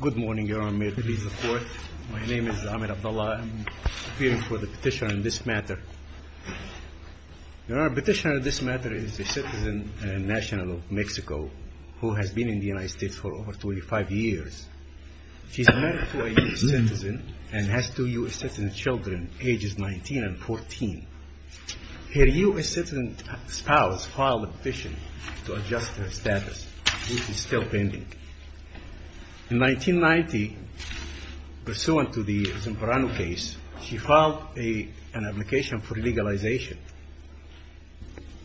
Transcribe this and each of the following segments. Good morning, Your Honor. May it please the Court. My name is Amir Abdullah. I am appearing for the petition on this matter. Your Honor, the petitioner on this matter is a citizen and national of Mexico who has been in the United States for over 25 years. She is married to a U.S. citizen and has two U.S. citizen children, ages 19 and 14. Her U.S. citizen spouse filed a petition to adjust her status, which is still pending. In 1990, pursuant to the Zamperano case, she filed an application for legalization.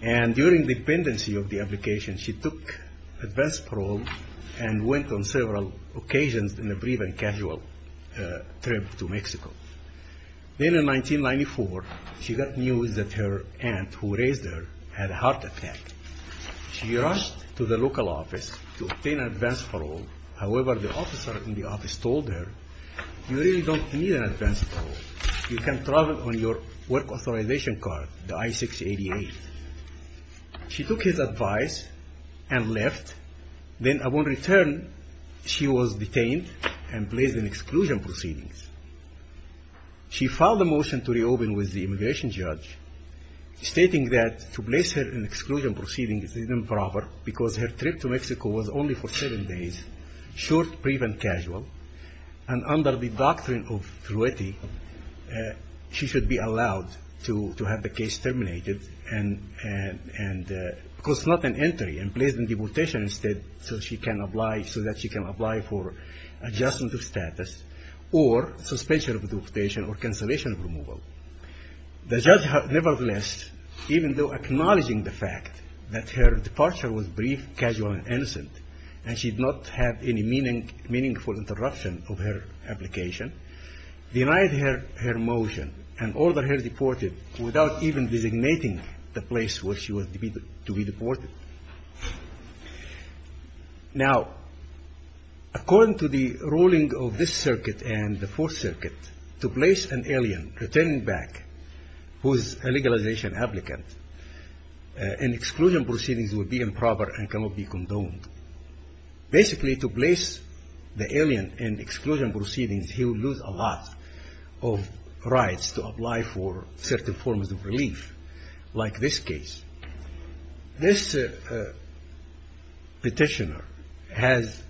And during the pendency of the application, she took advance parole and went on several occasions in a brief and casual trip to Mexico. Then in 1994, she got news that her aunt, who raised her, had a heart attack. She rushed to the local office to obtain advance parole. However, the officer in the office told her, you really don't need an advance parole. You can travel on your work authorization card, the I-688. She took his advice and left. Then upon return, she was detained and placed in exclusion proceedings. She filed a motion to reopen with the immigration judge, stating that to place her in exclusion proceedings is improper because her trip to Mexico was only for seven days, short, brief, and casual. And under the doctrine of truity, she should be allowed to have the case terminated because it's not an entry, and placed in deportation instead so that she can apply for adjustment of status or suspension of deportation or cancellation of removal. Nevertheless, even though acknowledging the fact that her departure was brief, casual, and innocent and she did not have any meaningful interruption of her application, denied her motion and ordered her deported without even designating the place where she was to be deported. Now, according to the ruling of this circuit and the Fourth Circuit, to place an alien returning back who is a legalization applicant in exclusion proceedings would be improper and cannot be condoned. Basically, to place the alien in exclusion proceedings, he would lose a lot of rights to apply for certain forms of relief, like this case. This petitioner has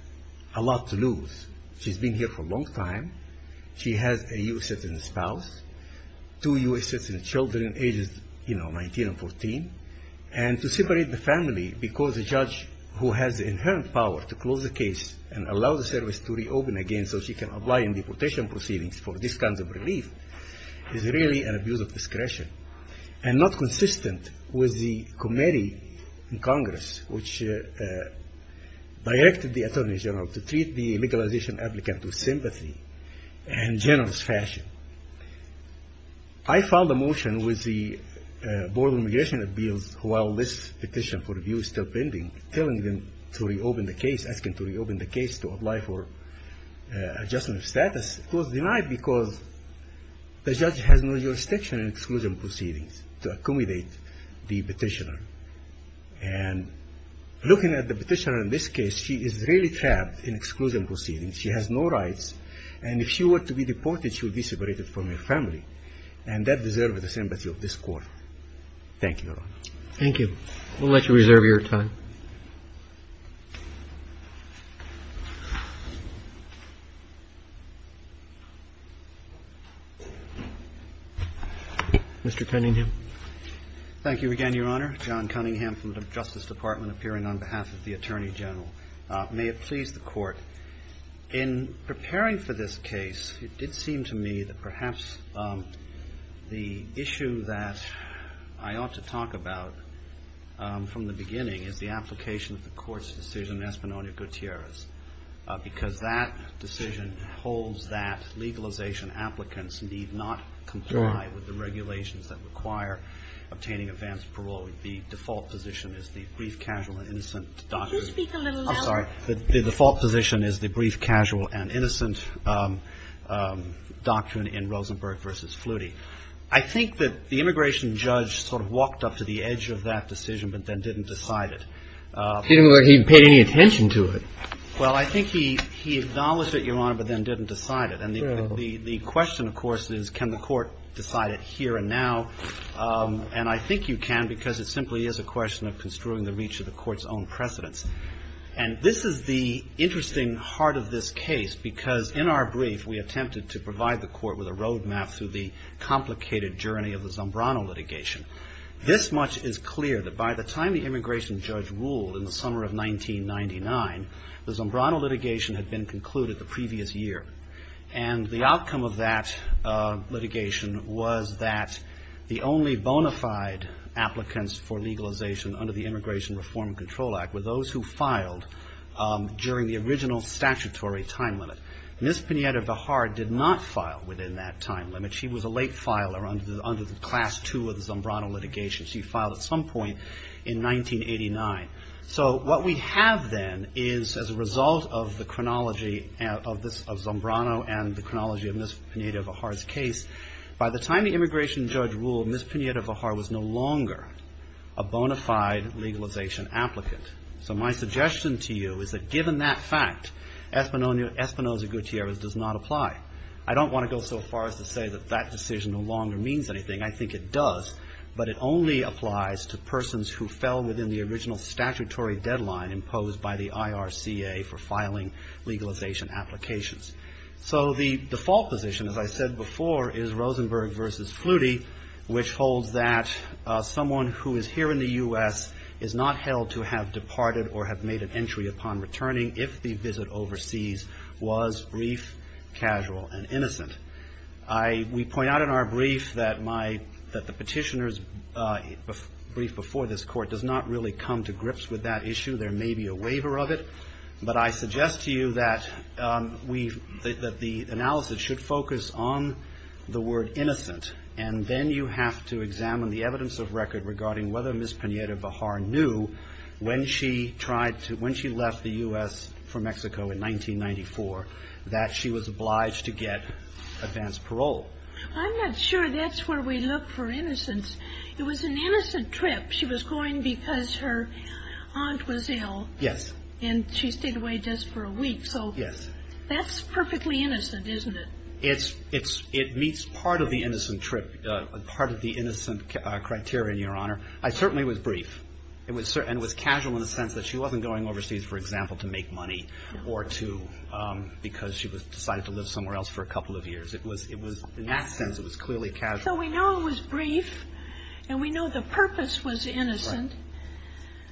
a lot to lose. She's been here for a long time. She has a U.S. citizen spouse, two U.S. citizen children ages 19 and 14, and to separate the family because the judge who has the inherent power to close the case and allow the service to reopen again so she can apply in deportation proceedings for this kind of relief is really an abuse of discretion and not consistent with the committee in Congress which directed the Attorney General to treat the legalization applicant with sympathy and generous fashion. I filed a motion with the Board of Immigration Appeals while this petition for review is still pending, telling them to reopen the case, asking to reopen the case to apply for adjustment of status. It was denied because the judge has no jurisdiction in exclusion proceedings to accommodate the petitioner and looking at the petitioner in this case, she is really trapped in exclusion proceedings. She has no rights and if she were to be deported, she would be separated from her family and that deserves the sympathy of this Court. Thank you, Your Honor. Roberts. Thank you. We'll let you reserve your time. Mr. Cunningham. Thank you again, Your Honor. John Cunningham from the Justice Department appearing on behalf of the Attorney General. May it please the Court. In preparing for this case, it did seem to me that perhaps the issue that I ought to talk about from the beginning is the application of the Court's decision in Espinoza-Gutierrez because that decision holds that legalization applicants need not comply with the regulations that require obtaining advanced parole. The default position is the brief, casual, and innocent doctrine. Could you speak a little louder? I'm sorry. The default position is the brief, casual, and innocent doctrine in Rosenberg v. Flutie. I think that the immigration judge sort of walked up to the edge of that decision but then didn't decide it. He didn't look like he paid any attention to it. Well, I think he acknowledged it, Your Honor, but then didn't decide it. And the question, of course, is can the Court decide it here and now? And I think you can because it simply is a question of construing the reach of the Court's own precedence. And this is the interesting heart of this case because in our brief we attempted to provide the Court with a road map through the complicated journey of the Zombrano litigation. This much is clear that by the time the immigration judge ruled in the summer of 1999, the Zombrano litigation had been concluded the previous year. And the outcome of that litigation was that the only bona fide applicants for legalization under the Immigration Reform and Control Act were those who filed during the original statutory time limit. Ms. Pineda-Vihar did not file within that time limit. She was a late filer under the Class II of the Zombrano litigation. She filed at some point in 1989. So what we have then is as a result of the chronology of Zombrano and the chronology of Ms. Pineda-Vihar's case, by the time the immigration judge ruled, Ms. Pineda-Vihar was no longer a bona fide legalization applicant. So my suggestion to you is that given that fact, Espinoza-Gutierrez does not apply. I don't want to go so far as to say that that decision no longer means anything. I think it does, but it only applies to persons who fell within the original statutory deadline imposed by the IRCA for filing legalization applications. So the default position, as I said before, is Rosenberg v. Flutie, which holds that someone who is here in the U.S. is not held to have departed or have made an entry upon returning if the visit overseas was brief, casual, and innocent. We point out in our brief that the petitioner's brief before this court does not really come to grips with that issue. There may be a waiver of it. But I suggest to you that the analysis should focus on the word innocent, and then you have to examine the evidence of record regarding whether Ms. Pineda-Vihar knew when she left the U.S. for Mexico in 1994, that she was obliged to get advance parole. I'm not sure that's where we look for innocence. It was an innocent trip. She was going because her aunt was ill. Yes. And she stayed away just for a week. Yes. So that's perfectly innocent, isn't it? It meets part of the innocent trip, part of the innocent criteria, Your Honor. I certainly was brief and was casual in the sense that she wasn't going overseas, for example, to make money or to because she decided to live somewhere else for a couple of years. In that sense, it was clearly casual. So we know it was brief and we know the purpose was innocent. Right.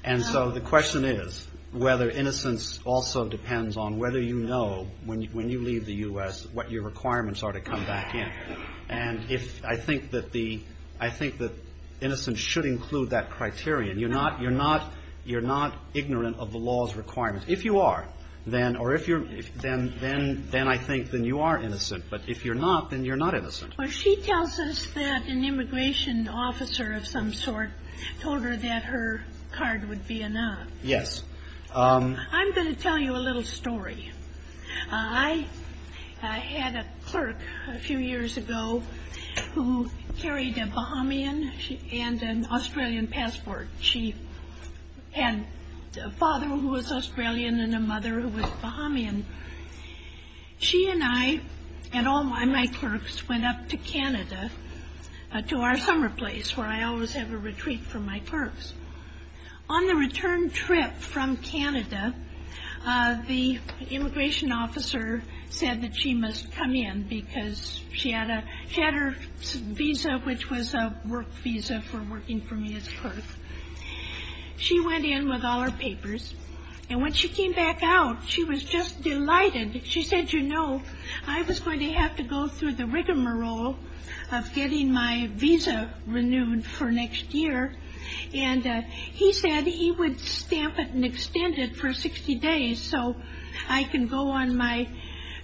And so the question is whether innocence also depends on whether you know when you leave the U.S. what your requirements are to come back in. And I think that innocence should include that criterion. You're not ignorant of the law's requirements. If you are, then I think then you are innocent. But if you're not, then you're not innocent. Well, she tells us that an immigration officer of some sort told her that her card would be enough. Yes. I'm going to tell you a little story. I had a clerk a few years ago who carried a Bahamian and an Australian passport. She had a father who was Australian and a mother who was Bahamian. She and I and all my clerks went up to Canada to our summer place where I always have a retreat for my clerks. On the return trip from Canada, the immigration officer said that she must come in because she had her visa, which was a work visa for working for me as a clerk. She went in with all her papers. And when she came back out, she was just delighted. She said, you know, I was going to have to go through the rigmarole of getting my visa renewed for next year. And he said he would stamp it and extend it for 60 days so I can go on my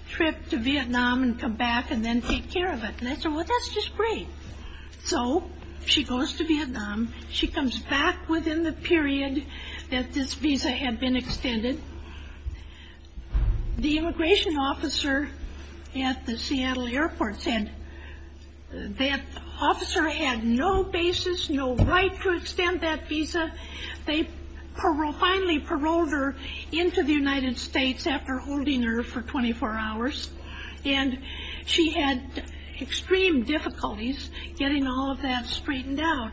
trip to Vietnam and come back and then take care of it. And I said, well, that's just great. So she goes to Vietnam. She comes back within the period that this visa had been extended. The immigration officer at the Seattle airport said that officer had no basis, no right to extend that visa. They finally paroled her into the United States after holding her for 24 hours. And she had extreme difficulties getting all of that straightened out.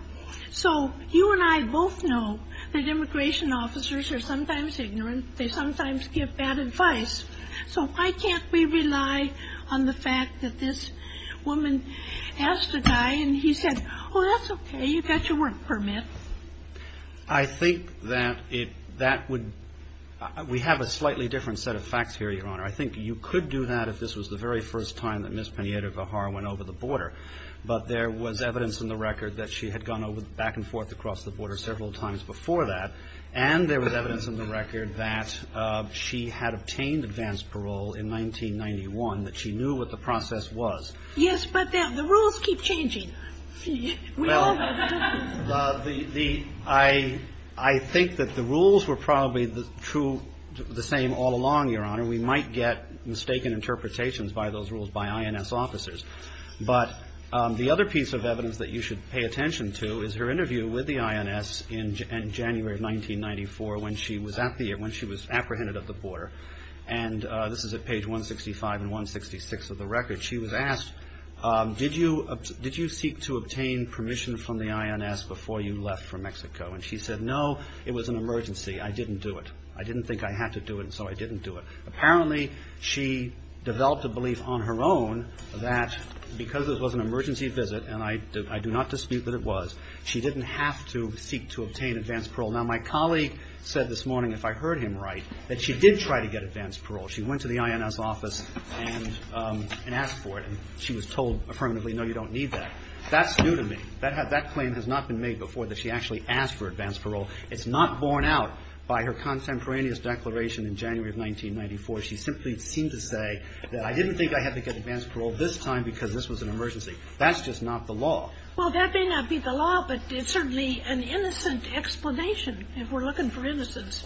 So you and I both know that immigration officers are sometimes ignorant. They sometimes give bad advice. So why can't we rely on the fact that this woman has to die? And he said, oh, that's OK. You've got your work permit. I think that it that would we have a slightly different set of facts here, Your Honor. I think you could do that if this was the very first time that Ms. Penaeita Gajar went over the border. But there was evidence in the record that she had gone back and forth across the border several times before that. And there was evidence in the record that she had obtained advance parole in 1991, that she knew what the process was. Yes, but the rules keep changing. Well, I think that the rules were probably true the same all along, Your Honor. We might get mistaken interpretations by those rules by INS officers. But the other piece of evidence that you should pay attention to is her interview with the INS in January of 1994, when she was apprehended at the border. And this is at page 165 and 166 of the record. She was asked, did you seek to obtain permission from the INS before you left for Mexico? And she said, no, it was an emergency. I didn't do it. I didn't think I had to do it, and so I didn't do it. Apparently, she developed a belief on her own that because this was an emergency visit, and I do not dispute that it was, she didn't have to seek to obtain advance parole. Now, my colleague said this morning, if I heard him right, that she did try to get advance parole. She went to the INS office and asked for it, and she was told affirmatively, no, you don't need that. That's new to me. That claim has not been made before that she actually asked for advance parole. It's not borne out by her contemporaneous declaration in January of 1994. She simply seemed to say that I didn't think I had to get advance parole this time because this was an emergency. That's just not the law. Well, that may not be the law, but it's certainly an innocent explanation if we're looking for innocence.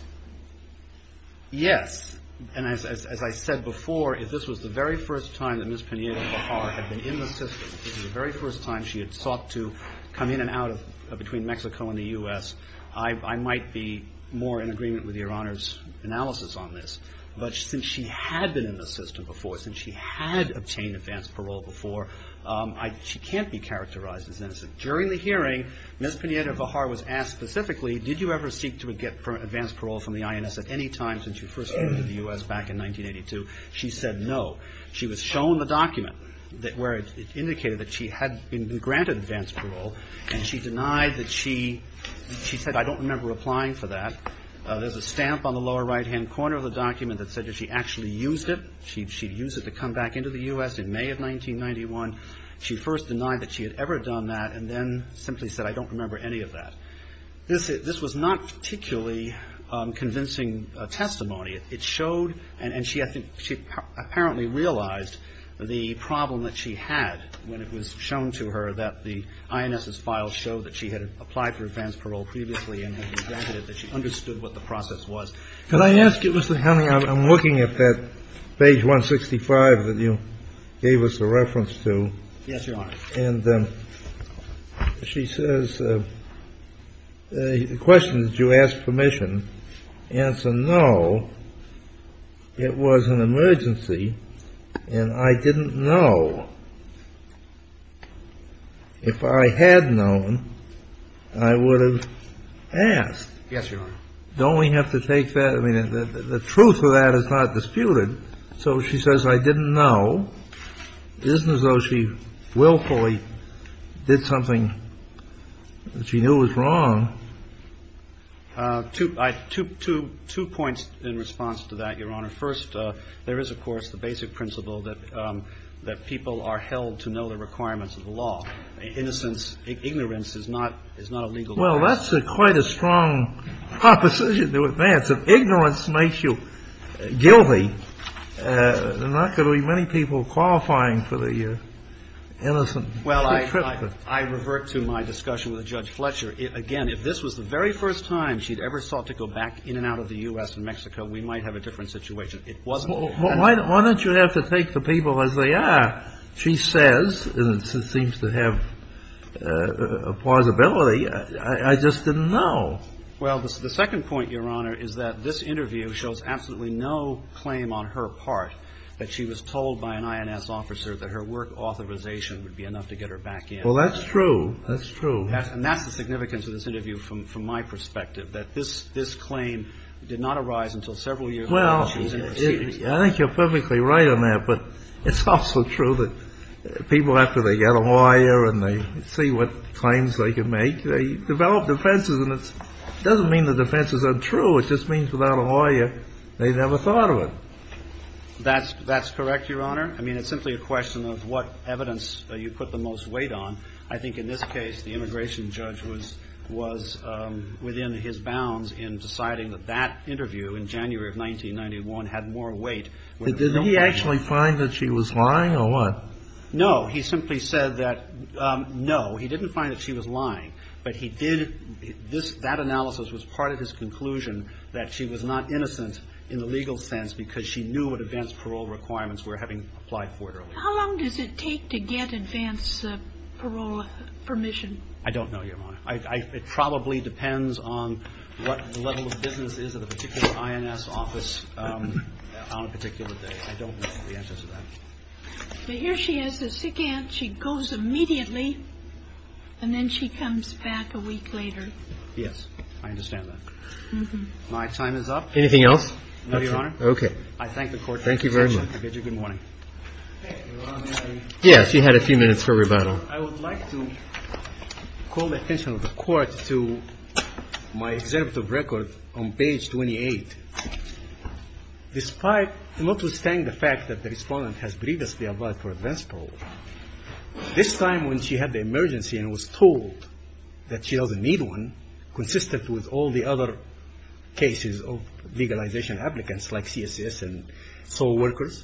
Yes. And as I said before, if this was the very first time that Ms. Pineda-Bajar had been in the system, if this was the very first time she had sought to come in and out between Mexico and the U.S., I might be more in agreement with Your Honor's analysis on this, but since she had been in the system before, since she had obtained advance parole before, she can't be characterized as innocent. During the hearing, Ms. Pineda-Bajar was asked specifically, did you ever seek to get advance parole from the INS at any time since you first came to the U.S. back in 1982? She said no. She was shown the document where it indicated that she had been granted advance parole, and she denied that she – she said, I don't remember applying for that. There's a stamp on the lower right-hand corner of the document that said that she actually used it. She used it to come back into the U.S. in May of 1991. She first denied that she had ever done that and then simply said, I don't remember any of that. This was not particularly convincing testimony. It showed – and she apparently realized the problem that she had when it was shown to her that the INS's files showed that she had applied for advance parole previously and had been granted it, that she understood what the process was. Can I ask you, Mr. Henning, I'm looking at that page 165 that you gave us a reference to. Yes, Your Honor. And she says – the question is, did you ask permission? Answer, no, it was an emergency, and I didn't know. If I had known, I would have asked. Yes, Your Honor. Don't we have to take that – I mean, the truth of that is not disputed. So she says, I didn't know. It isn't as though she willfully did something that she knew was wrong. Two points in response to that, Your Honor. First, there is, of course, the basic principle that people are held to know the requirements of the law. Innocence, ignorance is not a legal term. Well, that's quite a strong proposition to advance. If ignorance makes you guilty, there are not going to be many people qualifying for the innocent. Well, I revert to my discussion with Judge Fletcher. Again, if this was the very first time she had ever sought to go back in and out of the U.S. and Mexico, we might have a different situation. It wasn't. Why don't you have to take the people as they are? She says, and it seems to have plausibility, I just didn't know. Well, the second point, Your Honor, is that this interview shows absolutely no claim on her part that she was told by an INS officer that her work authorization would be enough to get her back in. Well, that's true. That's true. And that's the significance of this interview from my perspective, that this claim did not arise until several years later. Well, I think you're perfectly right on that. But it's also true that people, after they get a lawyer and they see what claims they can make, they develop defenses. And it doesn't mean the defense is untrue. It just means without a lawyer, they never thought of it. That's correct, Your Honor. I mean, it's simply a question of what evidence you put the most weight on. I think in this case, the immigration judge was within his bounds in deciding that that interview in January of 1991 had more weight. Did he actually find that she was lying or what? No. But he did. That analysis was part of his conclusion that she was not innocent in the legal sense because she knew what advance parole requirements were, having applied for it earlier. How long does it take to get advance parole permission? I don't know, Your Honor. It probably depends on what the level of business is at a particular INS office on a particular day. I don't know the answer to that. But here she is a sick aunt. She goes immediately, and then she comes back a week later. Yes. I understand that. My time is up. Anything else? No, Your Honor. Okay. I thank the Court for its attention. Thank you very much. I bid you good morning. Yes. You had a few minutes for rebuttal. I would like to call the attention of the Court to my excerpt of record on page 28. Despite notwithstanding the fact that the respondent has previously applied for advance parole, this time when she had the emergency and was told that she doesn't need one, consistent with all the other cases of legalization applicants like CSS and SO workers,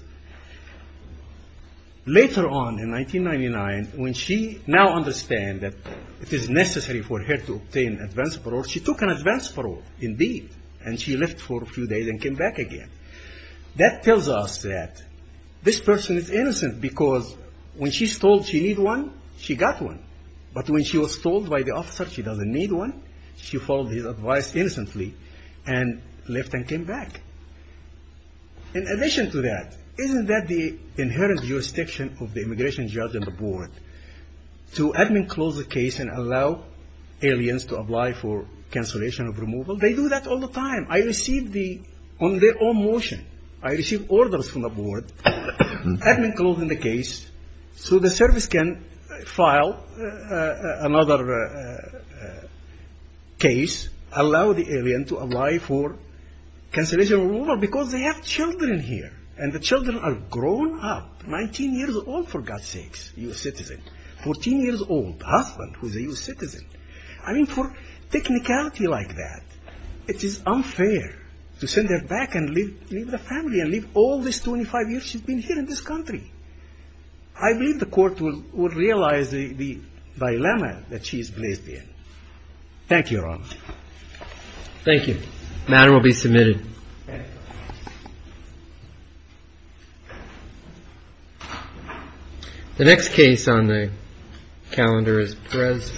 later on in 1999, when she now understands that it is necessary for her to obtain advance parole, she took an advance parole, indeed, and she left for a few days and came back again. That tells us that this person is innocent because when she's told she needs one, she got one. But when she was told by the officer she doesn't need one, she followed his advice innocently and left and came back. In addition to that, isn't that the inherent jurisdiction of the immigration judge and the board, to admin close the case and allow aliens to apply for cancellation of removal? They do that all the time. I receive the on their own motion. I receive orders from the board. Admin closing the case so the service can file another case, allow the alien to apply for cancellation of removal because they have children here, and the children are grown up, 19 years old, for God's sakes, a U.S. citizen, 14 years old, a husband who's a U.S. citizen. I mean, for technicality like that, it is unfair to send her back and leave the family and leave all these 25 years she's been here in this country. I believe the court would realize the dilemma that she is placed in. Thank you, Your Honor. Thank you. The matter will be submitted. The next case on the calendar is Perez.